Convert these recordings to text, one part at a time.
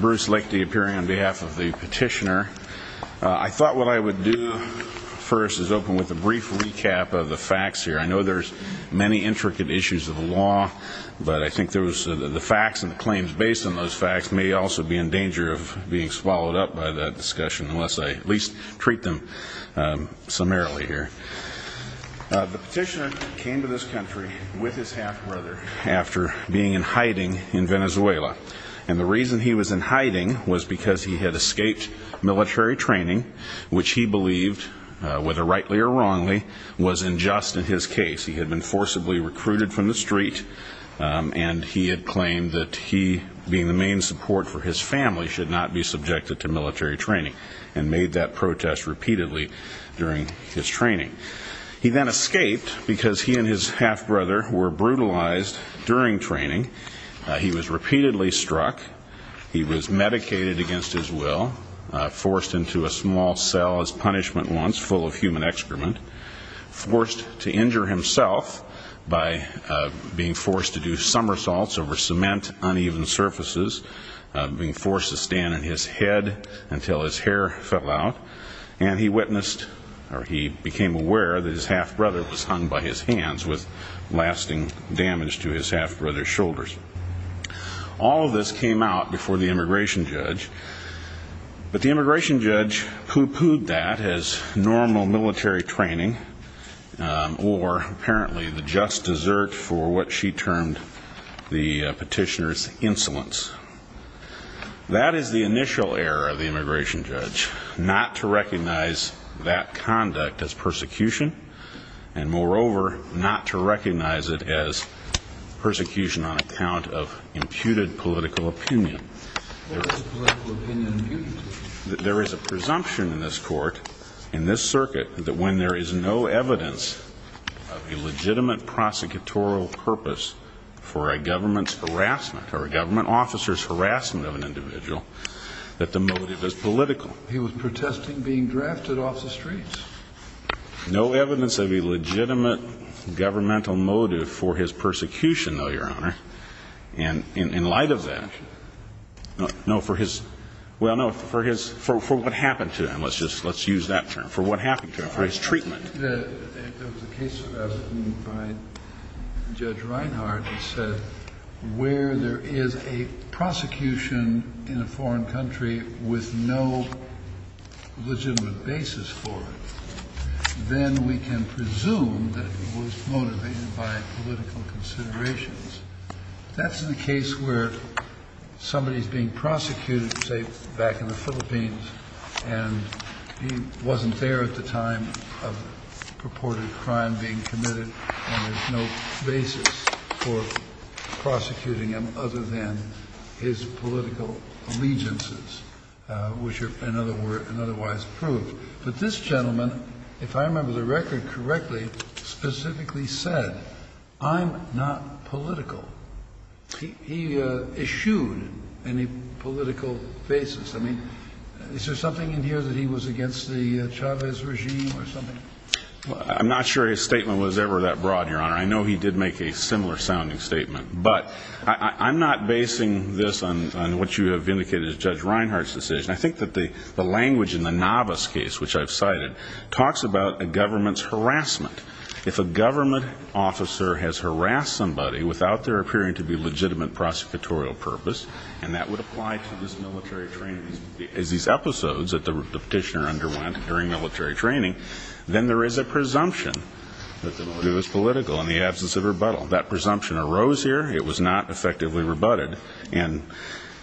Bruce Lakety appearing on behalf of the petitioner. I thought what I would do first is open with a brief recap of the facts here. I know there's many intricate issues of the law, but I think there was the facts and the claims based on those facts may also be in danger of being swallowed up by that discussion, unless I at least treat them summarily here. The petitioner came to this country with his half-brother after being in hiding in Venezuela. And the reason he was in hiding was because he had escaped military training, which he believed, whether rightly or wrongly, was unjust in his case. He had been forcibly recruited from the street, and he had claimed that he, being the main support for his family, should not be subjected to military training, and made that protest repeatedly during his training. He then escaped because he and his half-brother were brutalized during training. He was repeatedly full of human excrement, forced to injure himself by being forced to do somersaults over cement uneven surfaces, being forced to stand on his head until his hair fell out. And he witnessed, or he became aware, that his half-brother was hung by his hands with lasting damage to his half-brother's shoulders. All of this came out before the immigration judge pooh-poohed that as normal military training, or apparently the just desert for what she termed the petitioner's insolence. That is the initial error of the immigration judge, not to recognize that conduct as persecution, and moreover, not to recognize it as persecution on account of imputed political opinion. What is a political opinion imputed? There is a presumption in this court, in this circuit, that when there is no evidence of a legitimate prosecutorial purpose for a government's harassment, or a government officer's harassment of an individual, that the motive is political. He was protesting being drafted off the streets. No evidence of a legitimate governmental motive for his persecution, though, Your Honor, in light of that. No, for his, well, no, for his, for what happened to him, let's just, let's use that term, for what happened to him, for his treatment. The case by Judge Reinhardt said where there is a prosecution in a foreign country with no legitimate basis for it, then we can presume that it was motivated by political considerations. That's in the case where somebody is being prosecuted, say, back in the Philippines, and he wasn't there at the time of purported crime being committed, and there's no basis for prosecuting him other than his political allegiances, which are, in other words, otherwise proved. But this gentleman, if I remember the record correctly, specifically said, I'm not political. He eschewed any political basis. I mean, is there something in here that he was against the Chavez regime or something? I'm not sure his statement was ever that broad, Your Honor. I know he did make a similar-sounding statement. But I'm not basing this on what you have indicated as Judge Reinhardt's decision. I think that the language in the Navas case, which I've cited, talks about a government's without there appearing to be legitimate prosecutorial purpose, and that would apply to these episodes that the Petitioner underwent during military training, then there is a presumption that the motive is political in the absence of rebuttal. That presumption arose here. It was not effectively rebutted. And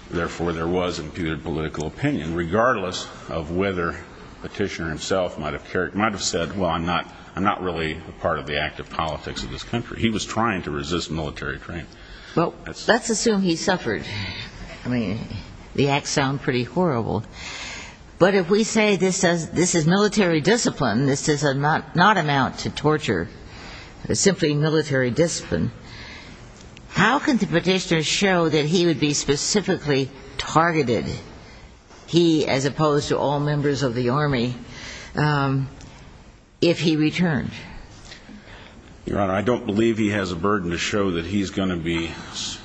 therefore, there was imputed political opinion, regardless of whether Petitioner himself might have said, well, I'm not really a part of the active politics of this country. He was trying to resist military training. Well, let's assume he suffered. I mean, the acts sound pretty horrible. But if we say this is military discipline, this does not amount to torture. It's simply military discipline. How can the Petitioner show that he would be specifically targeted, he as opposed to all members of the Army, if he returned? Your Honor, I don't believe he has a burden to show that he's going to be,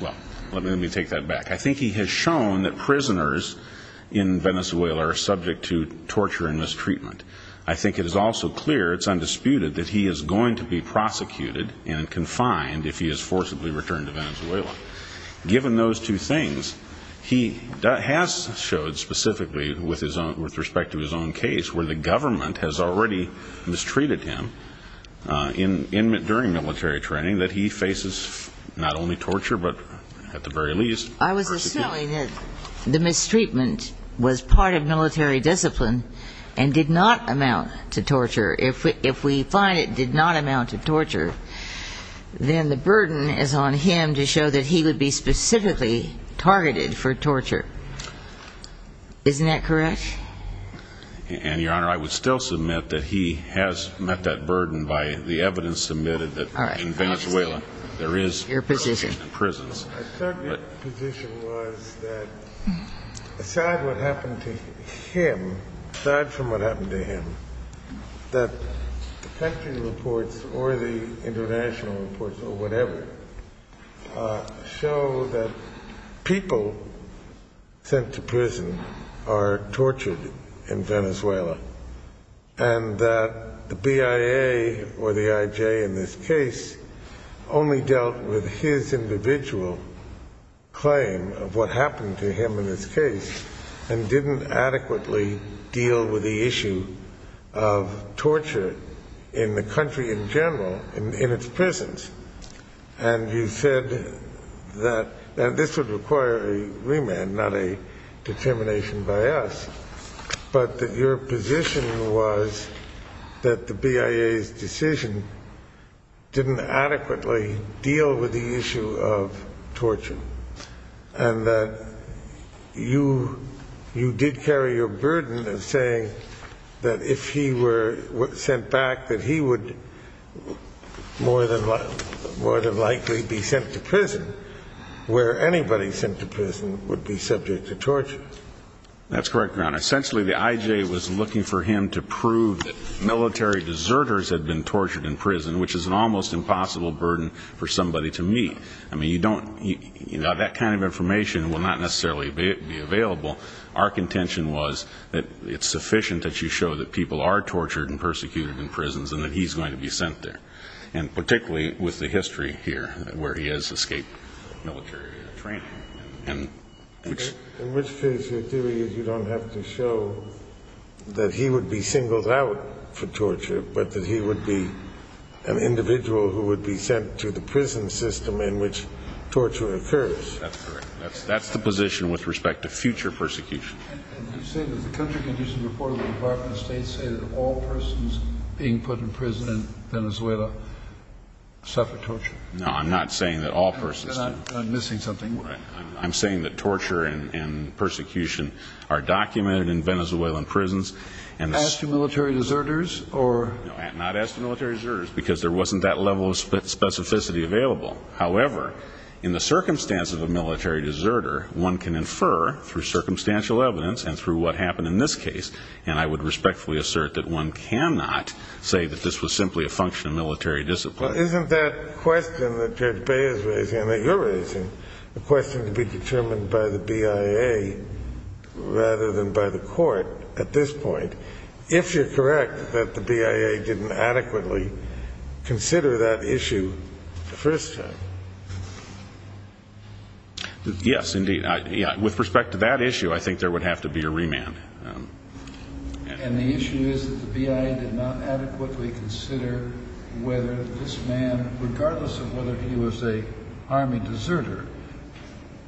well, let me take that back. I think he has shown that prisoners in Venezuela are subject to torture and mistreatment. I think it is also clear, it's undisputed, that he is going to be prosecuted and confined if he is forcibly returned to Venezuela. Given those two things, he has showed specifically with respect to his own case, where the government has already mistreated him during military training, that he faces not only torture, but at the very least, I was assuming that the mistreatment was part of military discipline and did not amount to torture. If we find it did not amount to torture, then the burden is on him to show that he would be specifically targeted for torture. Isn't that correct? And, Your Honor, I would still submit that he has met that burden by the evidence submitted that in Venezuela, there is persecution in prisons. Your position? My position was that aside what happened to him, aside from what happened to him, that the country reports or the international reports or whatever show that people sent to prison are tortured in Venezuela, and that the BIA or the IJ in this case only dealt with his individual claim of what happened to him in this case and didn't adequately deal with the issue of torture in the country in general, in its prisons. And you said that this would require a remand, not a determination by us, but that your position was that the BIA's decision didn't adequately deal with the issue of torture, and that you did carry your burden of saying that if he were sent back, that he would more than likely be sent to prison, where anybody sent to prison would be subject to torture. That's correct, Your Honor. Essentially, the IJ was looking for him to prove that military deserters had been tortured in prison, which is an almost impossible burden for somebody to meet. I mean, you don't, you know, that kind of information will not necessarily be available. Our contention was that it's sufficient that you show that people are tortured and persecuted in prisons and that he's going to be sent there. And particularly with the history here, where he has escaped military training. In which case, your theory is you don't have to show that he would be singled out for torture, but that he would be an individual who would be sent to the prison system in which torture occurs. That's correct. That's the position with respect to future persecution. And you're saying that the country can use a report of the Department of State saying that all persons being put in prison in Venezuela suffer torture? No, I'm not saying that all persons do. Then I'm missing something. I'm saying that torture and persecution are documented in Venezuelan prisons. As to military deserters? No, not as to military deserters, because there wasn't that level of specificity available. However, in the circumstance of a military deserter, one can infer, through circumstantial evidence and through what happened in this case, and I would respectfully assert that one cannot say that this was simply a function of military discipline. But isn't that question that Judge Bay is raising, and that you're raising, a question to be determined by the BIA rather than by the court at this point? But if you're correct that the BIA didn't adequately consider that issue the first time? Yes, indeed. With respect to that issue, I think there would have to be a remand. And the issue is that the BIA did not adequately consider whether this man, regardless of whether he was an army deserter,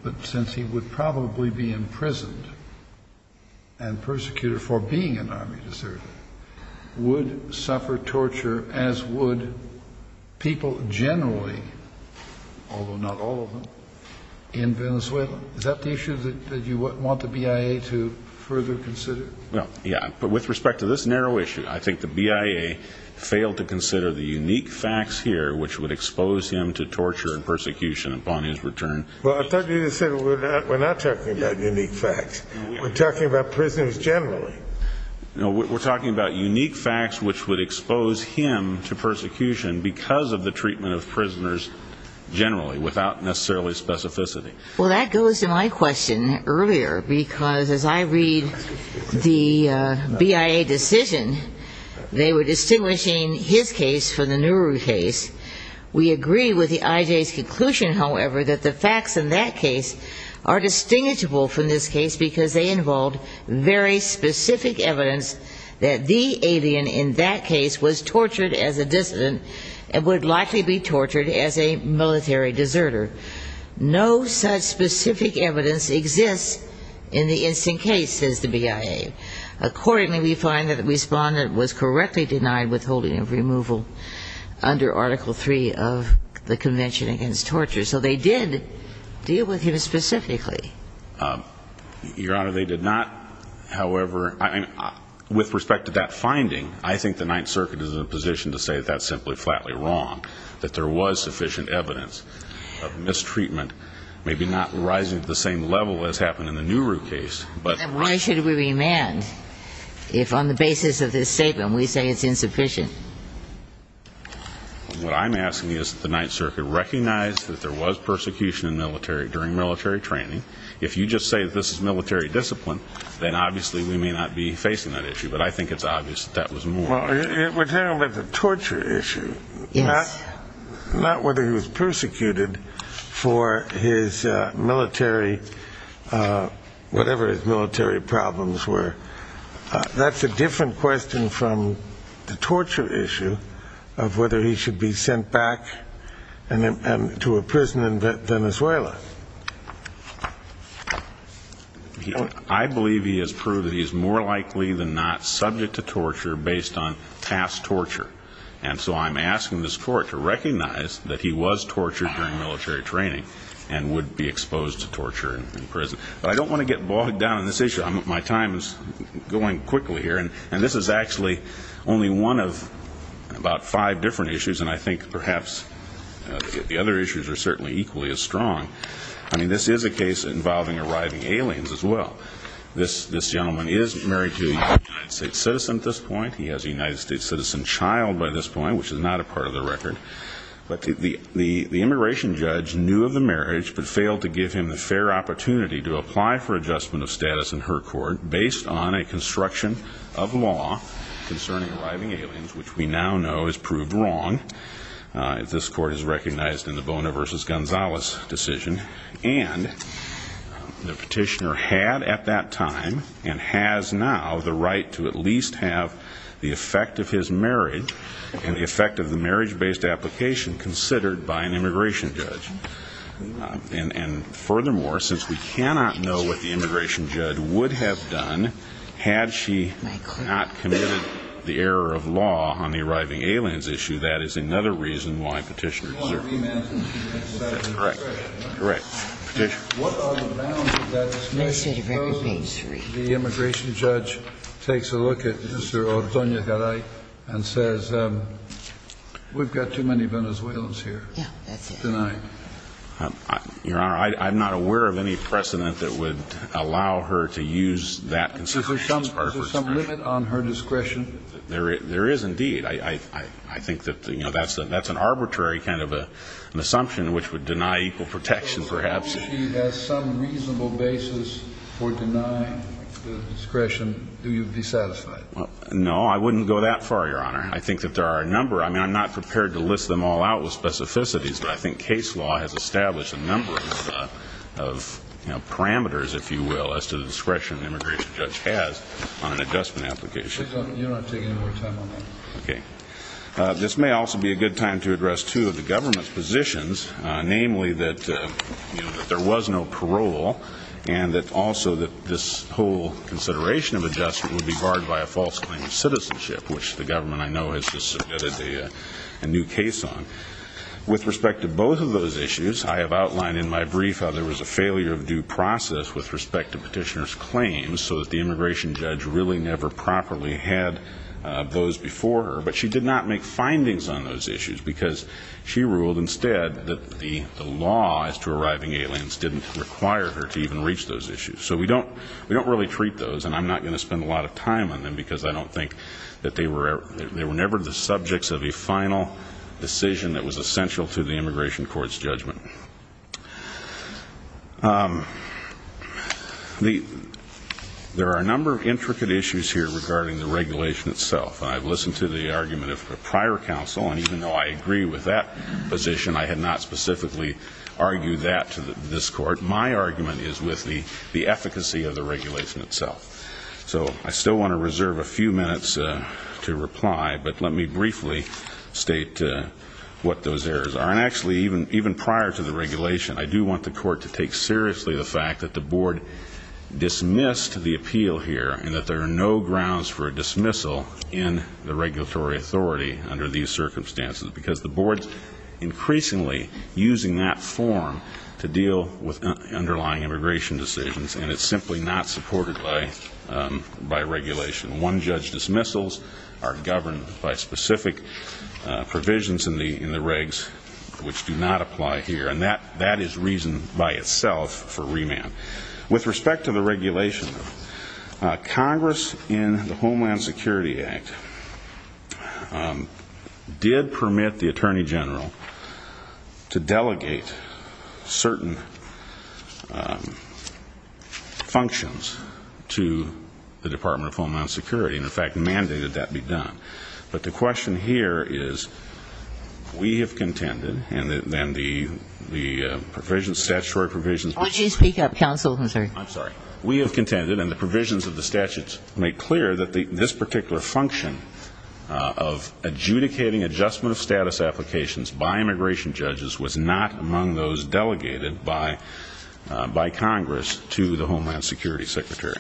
but since he would probably be imprisoned and an army deserter, would suffer torture as would people generally, although not all of them, in Venezuela. Is that the issue that you want the BIA to further consider? Yeah. But with respect to this narrow issue, I think the BIA failed to consider the unique facts here which would expose him to torture and persecution upon his return. Well, I thought you said we're not talking about unique facts. We're talking about prisoners generally. We're talking about unique facts which would expose him to persecution because of the treatment of prisoners generally, without necessarily specificity. Well, that goes to my question earlier, because as I read the BIA decision, they were distinguishing his case from the Nuru case. We agree with the IJ's conclusion, however, that the facts in that case are distinguishable from this case because they involve very specific evidence that the alien in that case was tortured as a dissident and would likely be tortured as a military deserter. No such specific evidence exists in the instant case, says the BIA. Accordingly, we find that the respondent was correctly denied withholding of removal under Article III of the Convention Against Torture. So they did deal with him specifically. Your Honor, they did not. However, with respect to that finding, I think the Ninth Circuit is in a position to say that that's simply flatly wrong, that there was sufficient evidence of mistreatment, maybe not rising to the same level as happened in the Nuru case. Then why should we remand if on the basis of this statement we say it's insufficient? What I'm asking is that the Ninth Circuit recognize that there was persecution in military, during military training. If you just say that this is military discipline, then obviously we may not be facing that issue. But I think it's obvious that that was more. Well, it would handle the torture issue. Yes. Not whether he was persecuted for his military, whatever his military problems were. That's a different question from the torture issue of whether he should be sent back to a prison in Venezuela. I believe he has proved that he's more likely than not subject to torture based on past torture. And so I'm asking this Court to recognize that he was tortured during military training and would be exposed to torture in prison. But I don't want to get bogged down in this issue. My time is going quickly here. And this is actually only one of about five different issues. And I think perhaps the other issues are certainly equally as strong. I mean, this is a case involving arriving aliens as well. This gentleman is married to a United States citizen at this point. He has a United States citizen child by this point, which is not a part of the record. But the immigration judge knew of the marriage but failed to give him the fair opportunity to apply for adjustment of law concerning arriving aliens, which we now know has proved wrong. This Court has recognized in the Bona versus Gonzalez decision. And the petitioner had at that time and has now the right to at least have the effect of his marriage and the effect of the marriage-based application considered by an immigration judge. And furthermore, since we cannot know what the immigration judge would have done, had she not committed the error of law on the arriving aliens issue, that is another reason why petitioner deserves it. That's correct. Correct. What are the grounds of that discussion? The immigration judge takes a look at Mr. Ortonia Garay and says, we've got too many Venezuelans here tonight. Your Honor, I'm not aware of any precedent that would allow her to use that consideration as part of her discretion. Is there some limit on her discretion? There is indeed. I think that's an arbitrary kind of assumption which would deny equal protection perhaps. If she has some reasonable basis for denying the discretion, do you be satisfied? No, I wouldn't go that far, Your Honor. I think that there are a number. I'm not prepared to list them all out with specificities. But I think case law has established a number of parameters, if you will, as to the discretion the immigration judge has on an adjustment application. You don't have to take any more time on that. Okay. This may also be a good time to address two of the government's positions, namely that there was no parole and that also that this whole consideration of adjustment would be barred by a false claim of citizenship, which the government I know has just submitted a new case on. With respect to both of those issues, I have outlined in my brief how there was a failure of due process with respect to petitioner's claims so that the immigration judge really never properly had those before her. But she did not make findings on those issues because she ruled instead that the law as to arriving aliens didn't require her to even reach those issues. So we don't really treat those, and I'm not going to spend a lot of time on them because I don't think that they were ever the subjects of a final decision that was essential to the immigration court's judgment. There are a number of intricate issues here regarding the regulation itself. I've listened to the argument of a prior counsel, and even though I agree with that position, I had not specifically argued that to this court. My argument is with the efficacy of the regulation itself. So I still want to reserve a few minutes to reply, but let me briefly state what those errors are. And actually, even prior to the regulation, I do want the court to take seriously the fact that the board dismissed the appeal here and that there are no grounds for a dismissal in the regulatory authority under these circumstances because the board's increasingly using that form to deal with underlying immigration decisions, and it's simply not supported by regulation. One-judge dismissals are governed by specific provisions in the regs which do not apply here, and that is reason by itself for remand. With respect to the regulation, Congress in the Homeland Security Act did permit the Attorney General to delegate certain functions to the Department of Homeland Security, and in fact mandated that be done. But the question here is we have contended, and then the provisions, statutory provisions... Why don't you speak up, counsel? I'm sorry. We have contended, and the provisions of the statutes make clear that this particular function of adjudicating adjustment of status applications by immigration judges was not among those delegated by Congress to the Homeland Security Secretary.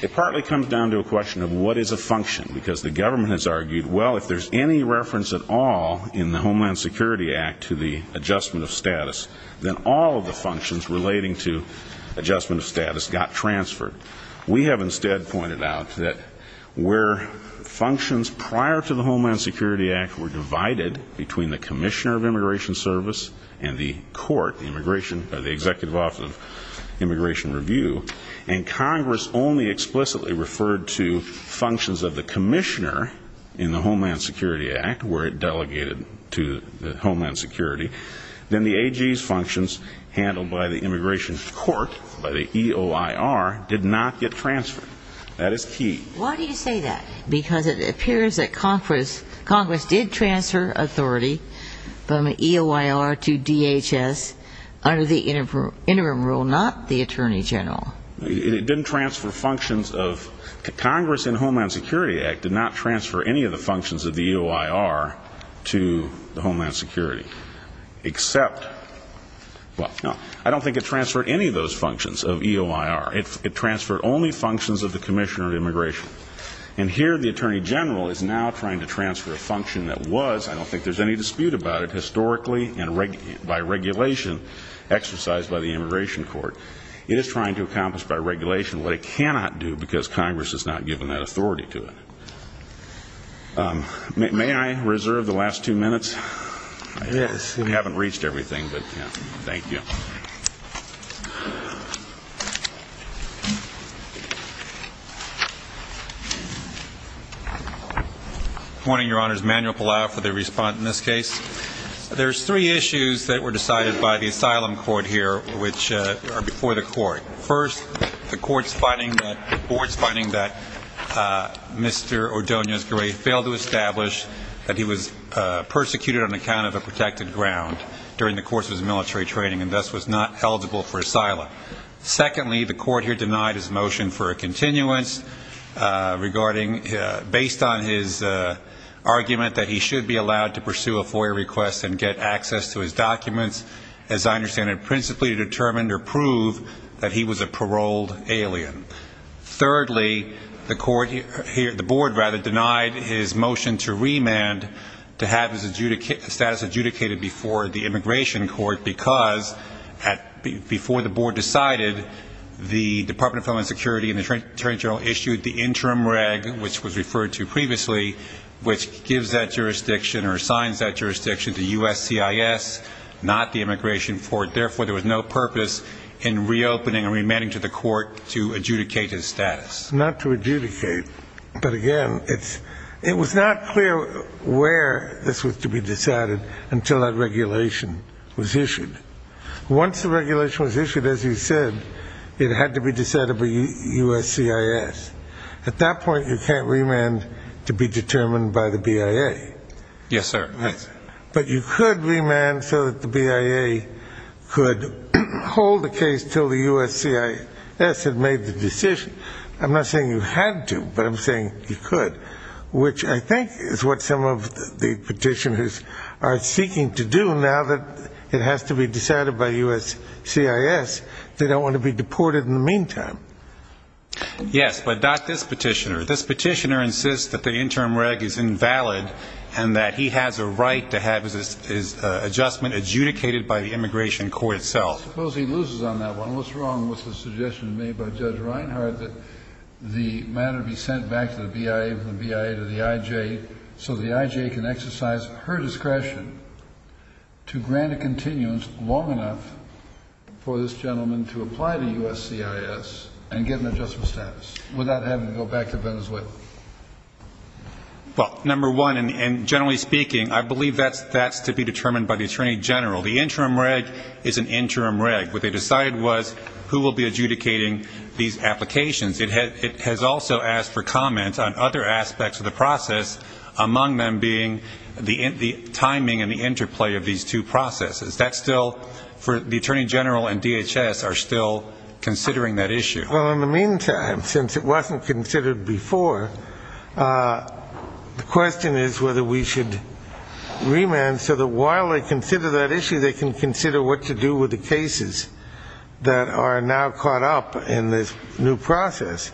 It partly comes down to a question of what is a function, because the government has argued, well, if there's any reference at all in the Homeland Security Act to the adjustment of status, then all of the functions relating to adjustment of status got transferred. We have instead pointed out that where functions prior to the Homeland Security Act were divided between the Commissioner of Immigration Service and the Court, the Executive Office of Immigration Review, and Congress only explicitly referred to functions of the Commissioner in the Homeland Security Act, where it delegated to Homeland Security, then the AG's functions handled by the Immigration Court, by the EOIR, did not get transferred. That is key. Why do you say that? Because it appears that Congress did transfer authority from EOIR to DHS under the interim rule, not the Attorney General. It didn't transfer functions of, Congress in the Homeland Security Act did not transfer any of the functions of the EOIR to the Homeland Security, except, well, no, I don't think it transferred any of those functions of EOIR. It transferred only functions of the Commissioner of Immigration. And here the Attorney General is now trying to transfer a function that was, I don't think there's any dispute about it, historically by regulation exercised by the Immigration Court. It is trying to accomplish by regulation what it cannot do because Congress has not given that authority to it. May I reserve the last two minutes? We haven't reached everything, but thank you. Morning, Your Honors. Manuel Palau for the response in this case. There's three issues that were decided by the Asylum Court here, which are before the Court. First, the Court's finding that, the Board's finding that Mr. Ordonez-Guerre failed to establish that he was persecuted on account of a protected ground during the course of his military training and thus was not eligible for asylum. Secondly, the Court here denied his motion for a continuance regarding, based on his argument that he should be allowed to pursue a FOIA request and get access to his documents. As I understand it, principally to determine or prove that he was a paroled alien. Thirdly, the Court here, the Board rather, denied his motion to remand to have his status adjudicated before the Immigration Court because, before the Board decided, the Department of Homeland Security and the Attorney General issued the Interim Reg, which was referred to previously, which gives that jurisdiction or assigns that jurisdiction to USCIS, not the Immigration Court. Therefore, there was no purpose in reopening or remanding to the Court to adjudicate his status. Not to adjudicate, but again, it was not clear where this was to be decided until that regulation was issued. Once the regulation was issued, as you said, it had to be decided by USCIS. At that point, you can't remand to be determined by the BIA. Yes, sir. But you could remand so that the BIA could hold the case until the USCIS had made the decision. I'm not saying you had to, but I'm saying you could, which I think is what some of the petitioners are seeking to do now that it has to be decided by USCIS. They don't want to be deported in the meantime. Yes, but not this petitioner. This petitioner insists that the Interim Reg is invalid and that he has a right to have his adjustment adjudicated by the Immigration Court itself. Suppose he loses on that one. What's wrong with the suggestion made by Judge Reinhardt that the matter be sent back to the IJA so the IJA can exercise her discretion to grant a continuance long enough for this gentleman to apply to USCIS and get an adjustment status without having to go back to Venezuela? Well, number one, and generally speaking, I believe that's to be determined by the Attorney General. The Interim Reg is an Interim Reg. What they decided was who will be adjudicating these applications. It has also asked for comments on other aspects of the process, among them being the timing and the interplay of these two processes. The Attorney General and DHS are still considering that issue. Well, in the meantime, since it wasn't considered before, the question is whether we should remand so that while they consider that issue, they can consider what to do with the cases that are now caught up in this new process.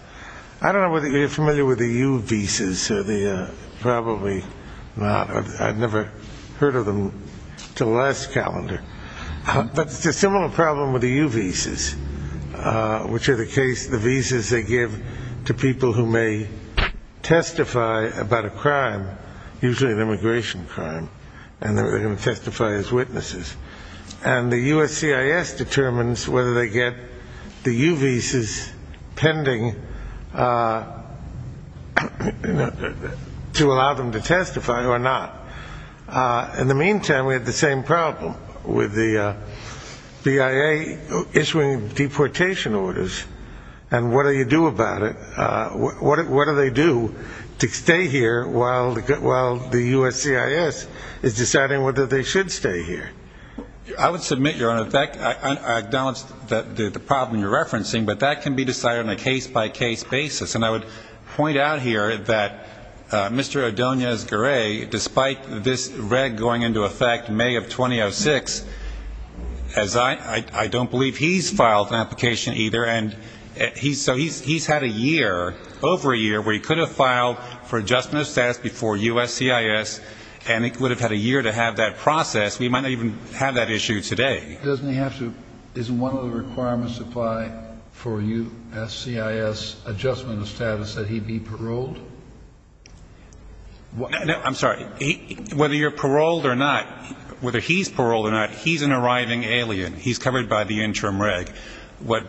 I don't know whether you're familiar with the U visas or probably not. I've never heard of them until last calendar. But it's a similar problem with the U visas, which are the cases, the visas they give to people who may testify about a crime, usually an immigration crime, and they're going to testify as witnesses. And the USCIS determines whether they get the U visas pending to allow them to testify or not. In the meantime, we have the same problem with the BIA issuing deportation orders and what do you do about it? What do they do to stay here while the USCIS I acknowledge the problem you're referencing, but that can be decided on a case-by-case basis. And I would point out here that Mr. Adoniz-Guerre, despite this reg going into effect in May of 2006, as I don't believe he's filed an application either. So he's had a year, over a year, where he could have filed for adjustment of status before USCIS, and he could have had a year to have that process. We might not even have that issue today. Doesn't one of the requirements apply for USCIS adjustment of status that he be paroled? No, I'm sorry. Whether you're paroled or not, whether he's paroled or not, he's an arriving alien. He's covered by the interim reg. What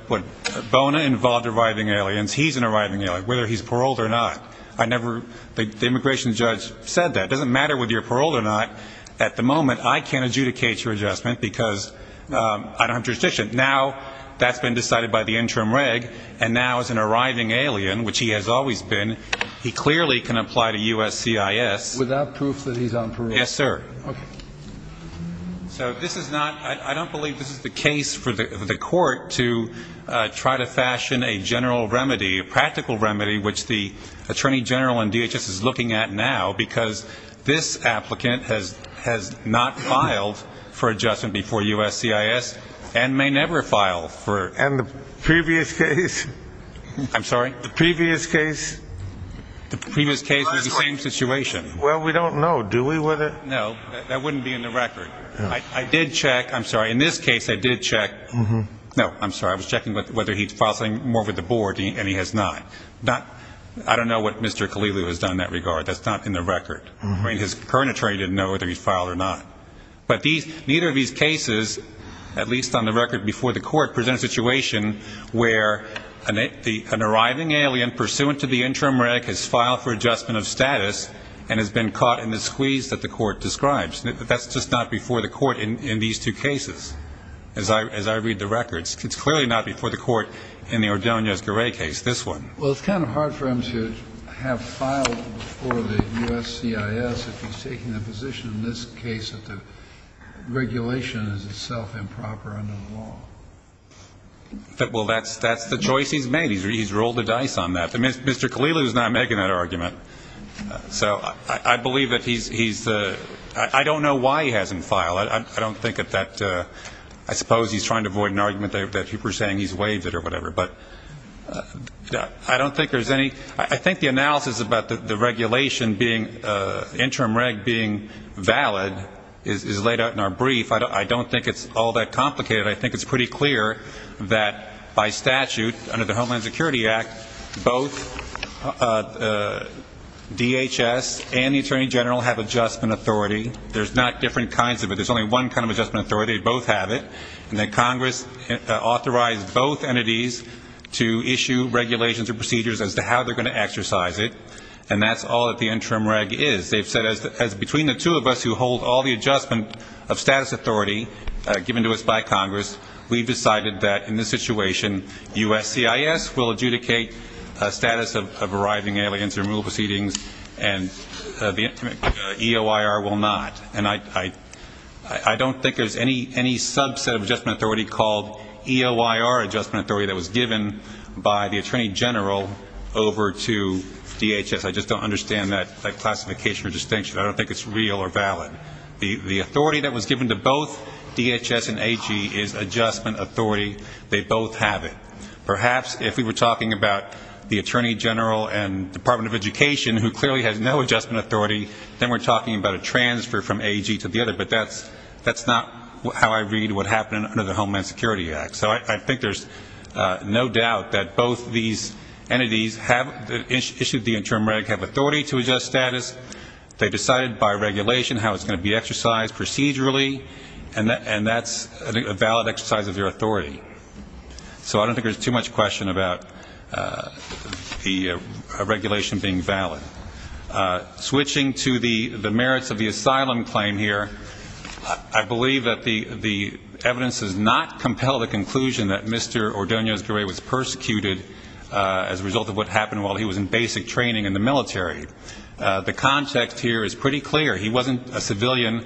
Bona involved arriving aliens, he's an arriving alien, whether he's paroled or not. The immigration judge said that. It doesn't matter whether you're paroled or not. At the moment, I can't adjudicate your adjustment because I don't have jurisdiction. Now that's been decided by the interim reg, and now as an arriving alien, which he has always been, he clearly can apply to USCIS. Without proof that he's on parole? Yes, sir. So this is not, I don't believe this is the case for the court to try to fashion a general remedy, a practical remedy, which the Attorney General and DHS is looking at now, because this applicant has not filed for adjustment before USCIS and may never file for And the previous case? I'm sorry? The previous case? The previous case was the same situation. Well, we don't know, do we? No, that wouldn't be in the record. I did check, I'm sorry, in this case I did check, no, I'm sorry, I was checking whether he filed something more with the board, and he has not. I don't know what Mr. I mean, his current attorney didn't know whether he filed or not. But neither of these cases, at least on the record before the court, present a situation where an arriving alien pursuant to the interim reg has filed for adjustment of status and has been caught in the squeeze that the court describes. That's just not before the court in these two cases, as I read the records. It's clearly not before the court in the Ordonez-Guerre case, this one. Well, it's kind of hard for him to have filed for the U.S.C.I.S. if he's taking the position in this case that the regulation is itself improper under the law. Well, that's the choice he's made. He's rolled the dice on that. Mr. Khalilu's not making that argument. So I believe that he's, I don't know why he hasn't filed. I don't think that that, I suppose he's trying to avoid an argument that you were saying he's waived it or whatever. But I don't think there's any, I think the analysis about the regulation being, interim reg being valid is laid out in our brief. I don't think it's all that complicated. I think it's pretty clear that by statute, under the Homeland Security Act, both DHS and the Attorney General have adjustment authority. There's not different kinds of it. There's only one kind of adjustment authority. Both have it. And that Congress authorized both entities to issue regulations or procedures as to how they're going to exercise it. And that's all that the interim reg is. They've said as between the two of us who hold all the adjustment of status authority given to us by Congress, we've decided that in this situation, U.S.C.I.S. will adjudicate status of arriving aliens removal proceedings and EOIR will not. And I don't think there's any subset of adjustment authority called EOIR adjustment authority that was given by the Attorney General over to DHS. I just don't understand that classification or distinction. I don't think it's real or valid. The authority that was given to both DHS and AEG is adjustment authority. They both have it. Perhaps if we were talking about the Attorney General and Department of Education who clearly has no adjustment authority, then we're talking about a transfer from AEG to the other. But that's not how I read what happened under the Homeland Security Act. So I think there's no doubt that both these entities have issued the interim reg, have authority to adjust status. They decided by regulation how it's going to be exercised procedurally. And that's a valid exercise of their authority. So I don't think there's too much question about the regulation being valid. Switching to the merits of the asylum claim here, I believe that the evidence does not compel the conclusion that Mr. Ordonez-Guerre was persecuted as a result of what happened while he was in basic training in the military. The context here is pretty clear. He wasn't a civilian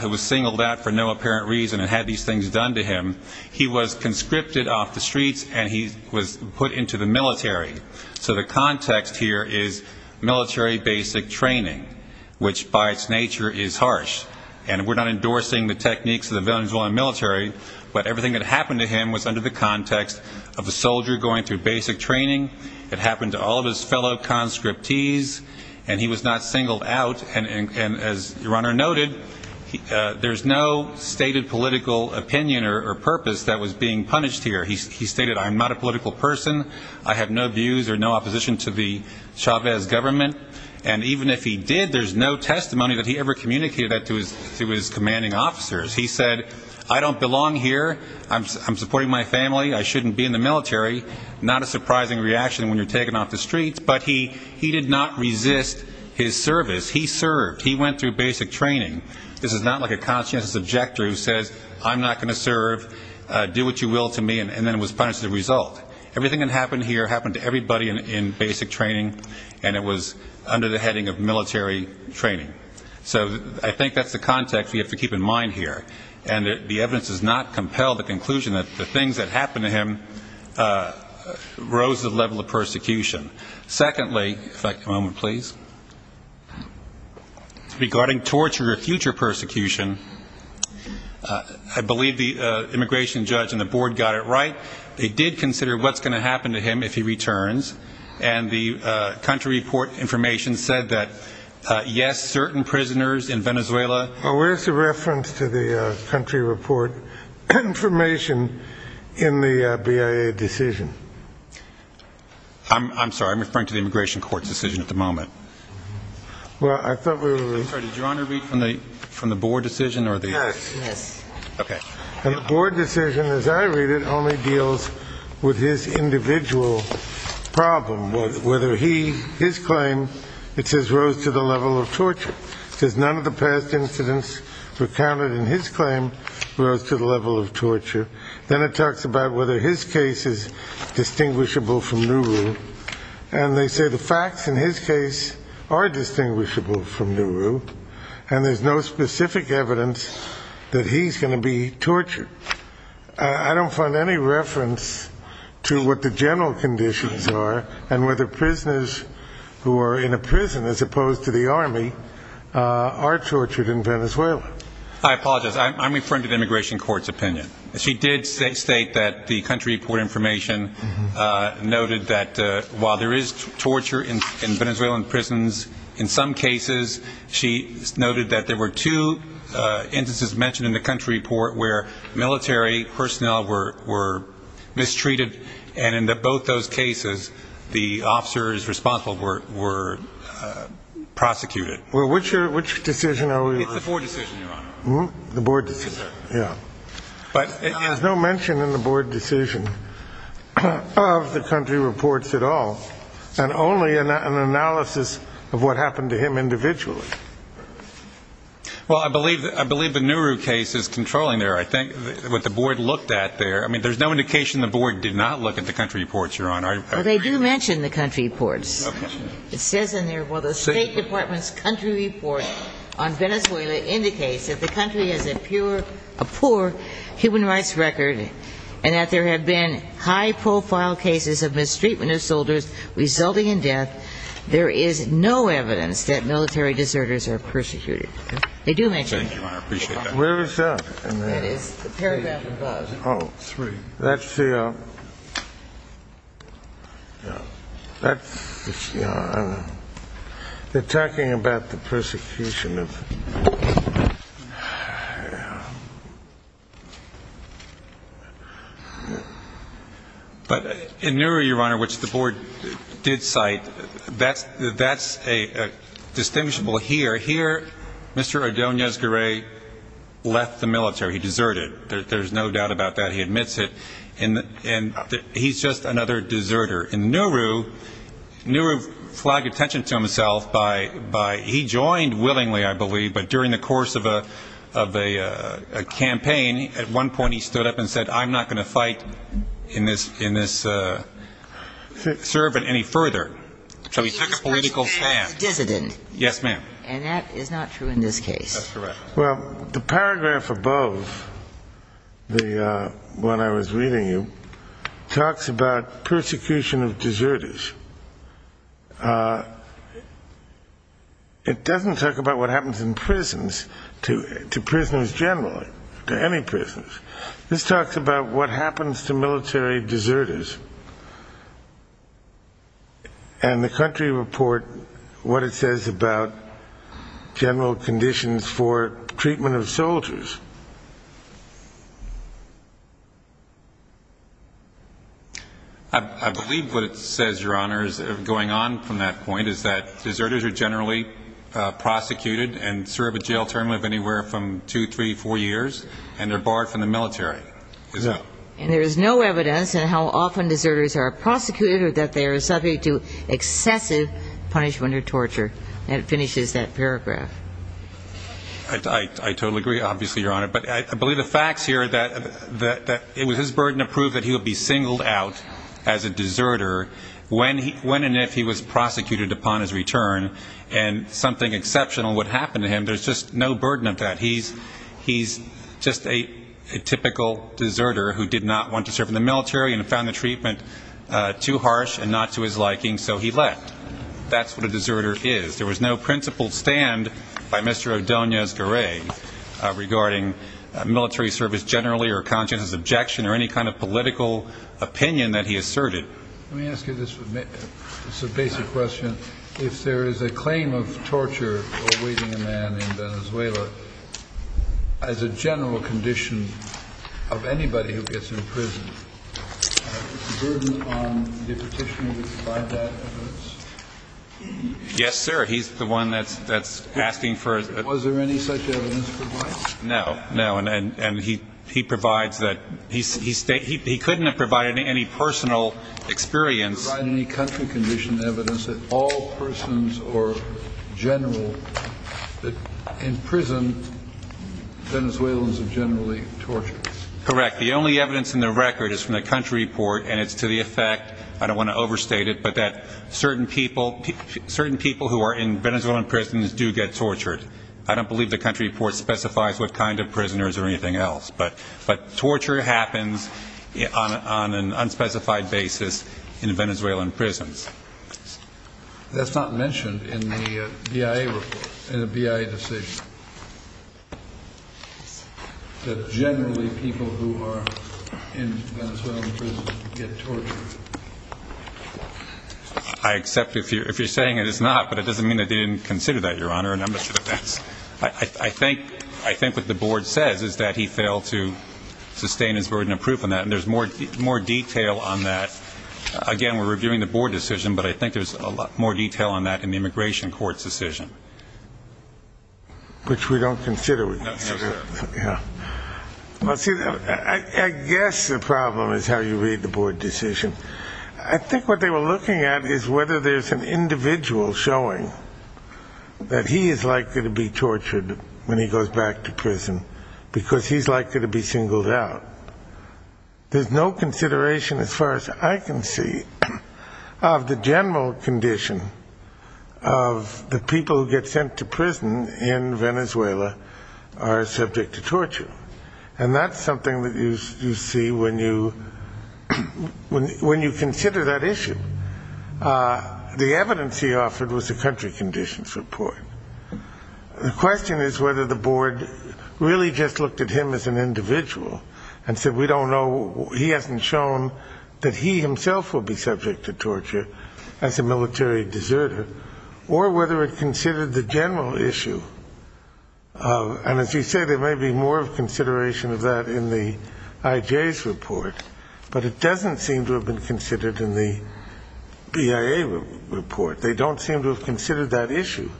who was singled out for no apparent reason and had these things done to him. He was conscripted off the streets and he was put into the military. So the context here is military basic training, which by its nature is harsh. And we're not endorsing the techniques of the Venezuelan military, but everything that happened to him was under the context of a soldier going through basic training. It happened to all of his fellow conscriptees. And he was not singled out. And as your Honor noted, there's no stated political opinion or purpose that was being punished here. He stated, I'm not a And even if he did, there's no testimony that he ever communicated that to his commanding officers. He said, I don't belong here. I'm supporting my family. I shouldn't be in the military. Not a surprising reaction when you're taken off the streets. But he did not resist his service. He served. He went through basic training. This is not like a conscientious objector who says, I'm not going to serve. Do what you will to me. And then was punished as a result. Everything that happened here happened to everybody in basic training. And it was under the heading of military training. So I think that's the context we have to keep in mind here. And the evidence does not compel the conclusion that the things that happened to him rose to the level of persecution. Secondly, if I could have a moment, please. Regarding torture or future persecution, I believe the immigration judge and the board got it right. They did consider what's going to happen to him if he returns. And the country report information said that, yes, certain prisoners in Venezuela Where's the reference to the country report information in the BIA decision? I'm sorry. I'm referring to the immigration court's decision at the moment. I'm sorry. Did your honor read from the board decision? Yes. And the board decision, as I read it, only deals with his individual problem. Whether he, his claim, it says rose to the level of torture. It says none of the past incidents recounted in his claim rose to the level of torture. Then it talks about whether his case is distinguishable from Nuru. And they say the facts in his case are distinguishable from Nuru. And there's no specific evidence that he's going to be tortured. I don't find any reference to what the general conditions are and whether prisoners who are in a prison as opposed to the army are tortured in Venezuela. I apologize. I'm referring to the immigration court's opinion. She did state that the country report information noted that while there is torture in Venezuelan prisons, in some cases, she noted that there were two instances mentioned in the country report where military personnel were mistreated. And in both those cases, the officers responsible were prosecuted. Which decision? It's the board decision, your honor. There's no mention in the board decision of the country reports at all. And only an analysis of what happened to him individually. Well, I believe the Nuru case is controlling there. I think what the board looked at there, I mean, there's no indication the board did not look at the country reports, your honor. Well, they do mention the country reports. It says in there, well, the state department's country report on Venezuela indicates that the country has a pure, a poor human rights record and that there have been high profile cases of mistreatment of soldiers resulting in death. There is no evidence that military deserters are persecuted. They do mention that. Thank you, your honor. I appreciate that. Where is that? That is the paragraph above. Oh, three. That's the that's the they're talking about the persecution of yeah. But in Nuru, your honor, which the board did cite, that's a distinguishable here. Here, Mr. Ordonez-Guerre left the military. He deserted. There's no doubt about that. He admits it. And he's just another deserter. In Nuru, Nuru flagged attention to himself by, he joined willingly I believe, but during the course of a campaign at one point he stood up and said, I'm not going to fight in this I'm not going to serve it any further. He's a dissident. Yes, ma'am. And that is not true in this case. That's correct. Well, the paragraph above the one I was reading you, talks about persecution of deserters. It doesn't talk about what happens in prisons to prisoners generally, to any prisoners. This talks about what happens to military deserters. And the country report, what it says about general conditions for treatment of soldiers. I believe what it says, your honor, is going on from that point, is that deserters are generally prosecuted and serve a jail term of anywhere from 2, 3, 4 years and they're barred from the military. And there is no evidence in how often deserters are prosecuted or that they are subject to excessive punishment or torture. And it finishes that paragraph. I totally agree, obviously, your honor. But I believe the facts here that it was his burden to prove that he would be singled out as a deserter, when and if he was prosecuted upon his return and something exceptional would happen to him, there's just no burden of that. He's just a typical deserter who did not want to serve in the military and found the treatment too harsh and not to his liking, so he left. That's what a deserter is. There was no principled stand by Mr. Odoña-Garray regarding military service generally or conscientious objection or any kind of political opinion that he asserted. Let me ask you this basic question. If there is a claim of torture awaiting a man in Venezuela, as a general condition of anybody who gets imprisoned, is there a burden on the petitioner to provide that evidence? Yes, sir. He's the one that's asking for Was there any such evidence provided? No. He couldn't have provided any personal experience. To provide any country condition evidence that all persons or general in prison Venezuelans are generally tortured. Correct. The only evidence in the record is from the country report and it's to the effect I don't want to overstate it, but that certain people who are in Venezuelan prisons do get tortured. I don't believe the country report specifies what kind of prisoners or anything else, but torture happens on an unspecified basis in Venezuelan prisons. That's not mentioned in the BIA report in the BIA decision that generally people who are in Venezuelan prison get tortured. I accept if you're saying it is not, but it doesn't mean that they didn't consider that, Your Honor. I think what the board says is that he failed to sustain his burden of proof on that and there's more detail on that Again, we're reviewing the board decision, but I think there's a lot more detail on that in the immigration court's decision. Which we don't consider with this. I guess the problem is how you read the board decision. I think what they were looking at is whether there's an individual showing that he is likely to be tortured when he goes back to prison because he's likely to be singled out. There's no accuracy of the general condition of the people who get sent to prison in Venezuela are subject to torture. And that's something that you see when you consider that issue. The evidence he offered was the country conditions report. The question is whether the board really just looked at him as an individual and said we don't know, he hasn't shown that he himself will be subject to torture as a military deserter, or whether it considered the general issue of, and as you say, there may be more of consideration of that in the IJ's report, but it doesn't seem to have been considered in the BIA report. They don't seem to have considered that issue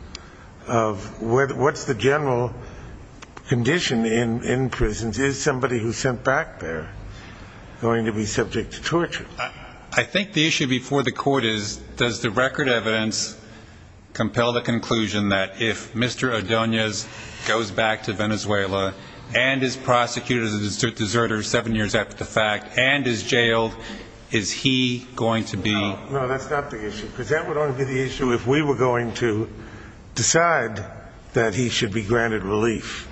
of what's the general condition in prisons. Is somebody who's sent back there going to be subject to torture? I think the issue before the court is, does the record evidence compel the conclusion that if Mr. Odoñez goes back to Venezuela and is prosecuted as a deserter seven years after the fact, and is jailed, is he going to be No, that's not the issue. Because that would only be the issue if we were going to decide that he should be granted relief.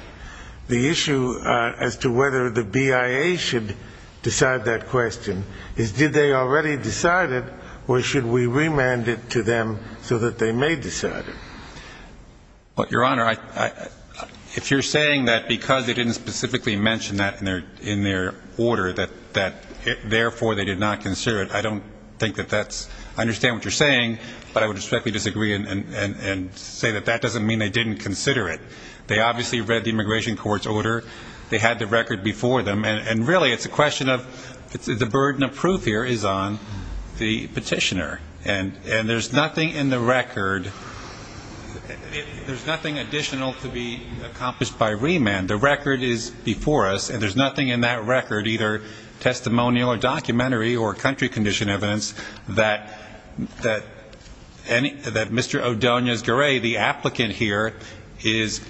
The issue as to whether the BIA should decide that question is did they already decide it, or should we remand it to them so that they may decide it? Your Honor, if you're saying that because they didn't specifically mention that in their order, that therefore they did not consider it, I don't think that that's, I understand what you're saying, but I would respectfully disagree and say that that doesn't mean they didn't consider it. They obviously read the immigration court's order, they had the record before them, and really it's a question of, the burden of proof here is on the petitioner. And there's nothing in the record There's nothing additional to be accomplished by remand. The record is before us, and there's nothing in that record, either testimonial or documentary or country condition evidence, that Mr. Odoñez-Garay, the applicant here, is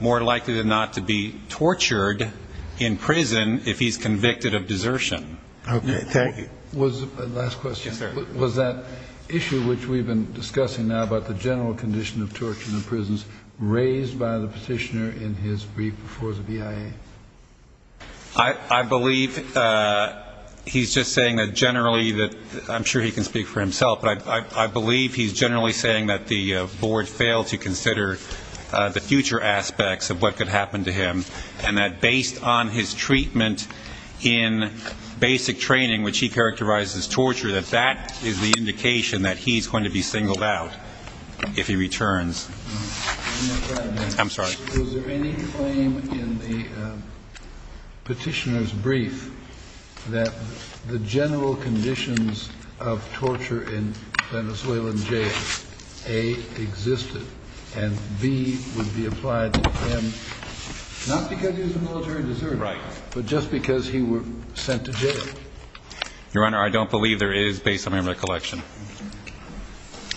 more likely than not to be tortured in prison if he's convicted of desertion. Last question. Was that issue which we've been discussing now about the general condition of torture in the prisons raised by the petitioner in his brief before the BIA? I believe he's just saying that generally that, I'm sure he can speak for himself, but I believe he's generally saying that the board failed to consider the future aspects of what could happen to him, and that based on his treatment in basic training, which he characterizes as torture, that that is the indication that he's going to be singled out if he returns. I'm sorry. Was there any claim in the petitioner's brief that the general conditions of torture in A, existed, and B, would be applied to him not because he was a military deserter, but just because he was sent to jail? Your Honor, I don't believe there is, based on my recollection.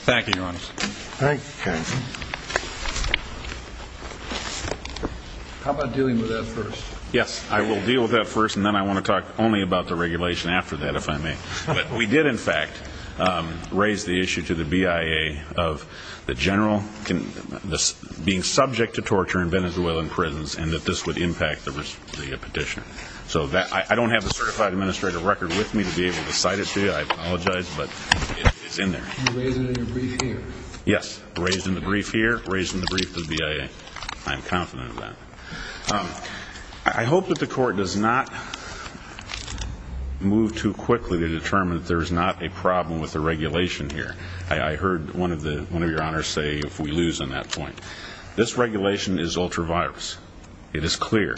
Thank you, Your Honor. How about dealing with that first? Yes, I will deal with that first, and then I want to talk only about the regulation after that, if I may. But we did, in fact, raise the issue to the BIA of the general being subject to torture in Venezuelan prisons, and that this would impact the petitioner. So I don't have the certified administrative record with me to be able to cite it to you. I apologize, but it's in there. You raised it in your brief here? Yes, raised in the brief here, raised in the brief to the BIA. I am confident of that. I hope that the court does not move too I heard one of your honors say if we lose on that point. This regulation is ultra-virus. It is clear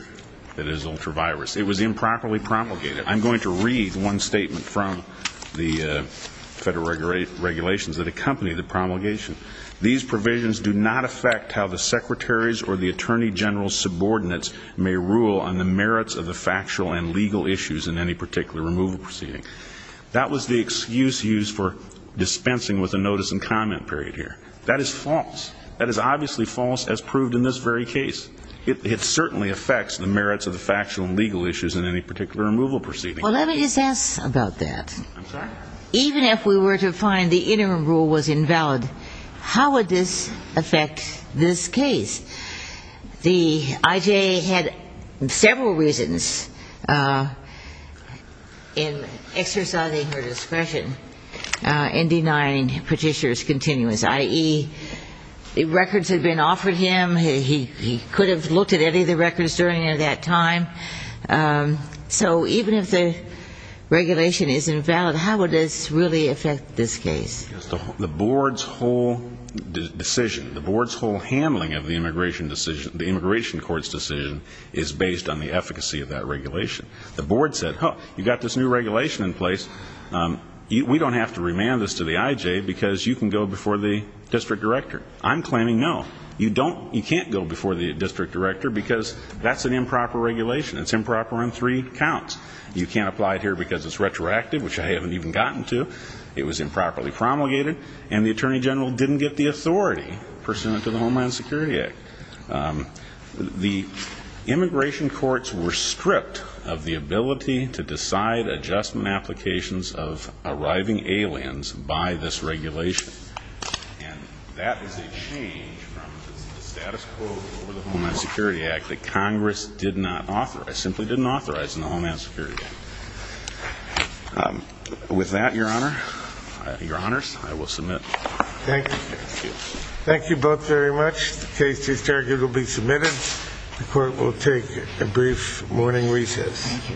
that it is ultra-virus. It was improperly promulgated. I'm going to read one statement from the federal regulations that accompany the promulgation. These provisions do not affect how the Secretary's or the Attorney General's subordinates may rule on the merits of the factual and legal issues in any particular removal proceeding. That was the excuse used for dispensing with a notice and comment period here. That is false. That is obviously false as proved in this very case. It certainly affects the merits of the factual and legal issues in any particular removal proceeding. Well, let me just ask about that. Even if we were to find the interim rule was invalid, how would this affect this case? The IJA had several reasons in exercising her discretion in denying Petitioner's continuance, i.e. records had been offered him. He could have looked at any of the records during that time. So even if the regulation is invalid, how would this really affect this case? The board's whole decision, the board's whole handling of the immigration court's decision is based on the efficacy of that regulation. The board said, you've got this new regulation in place we don't have to remand this to the IJA because you can go before the District Director. I'm claiming no. You can't go before the District Director because that's an improper regulation. It's improper on three counts. You can't apply it here because it's retroactive, which I haven't even gotten to. It was improperly promulgated and the Attorney General didn't get the authority pursuant to the Homeland Security Act. The immigration courts were stripped of the ability to decide adjustment applications of arriving aliens by this regulation. And that is a change from the status quo of the Homeland Security Act that Congress did not authorize, simply didn't authorize in the Homeland Security Act. With that, Your Honor, Your Honors, I will submit. Thank you. Thank you both very much. The case is arguably submitted. The court will take a brief morning recess.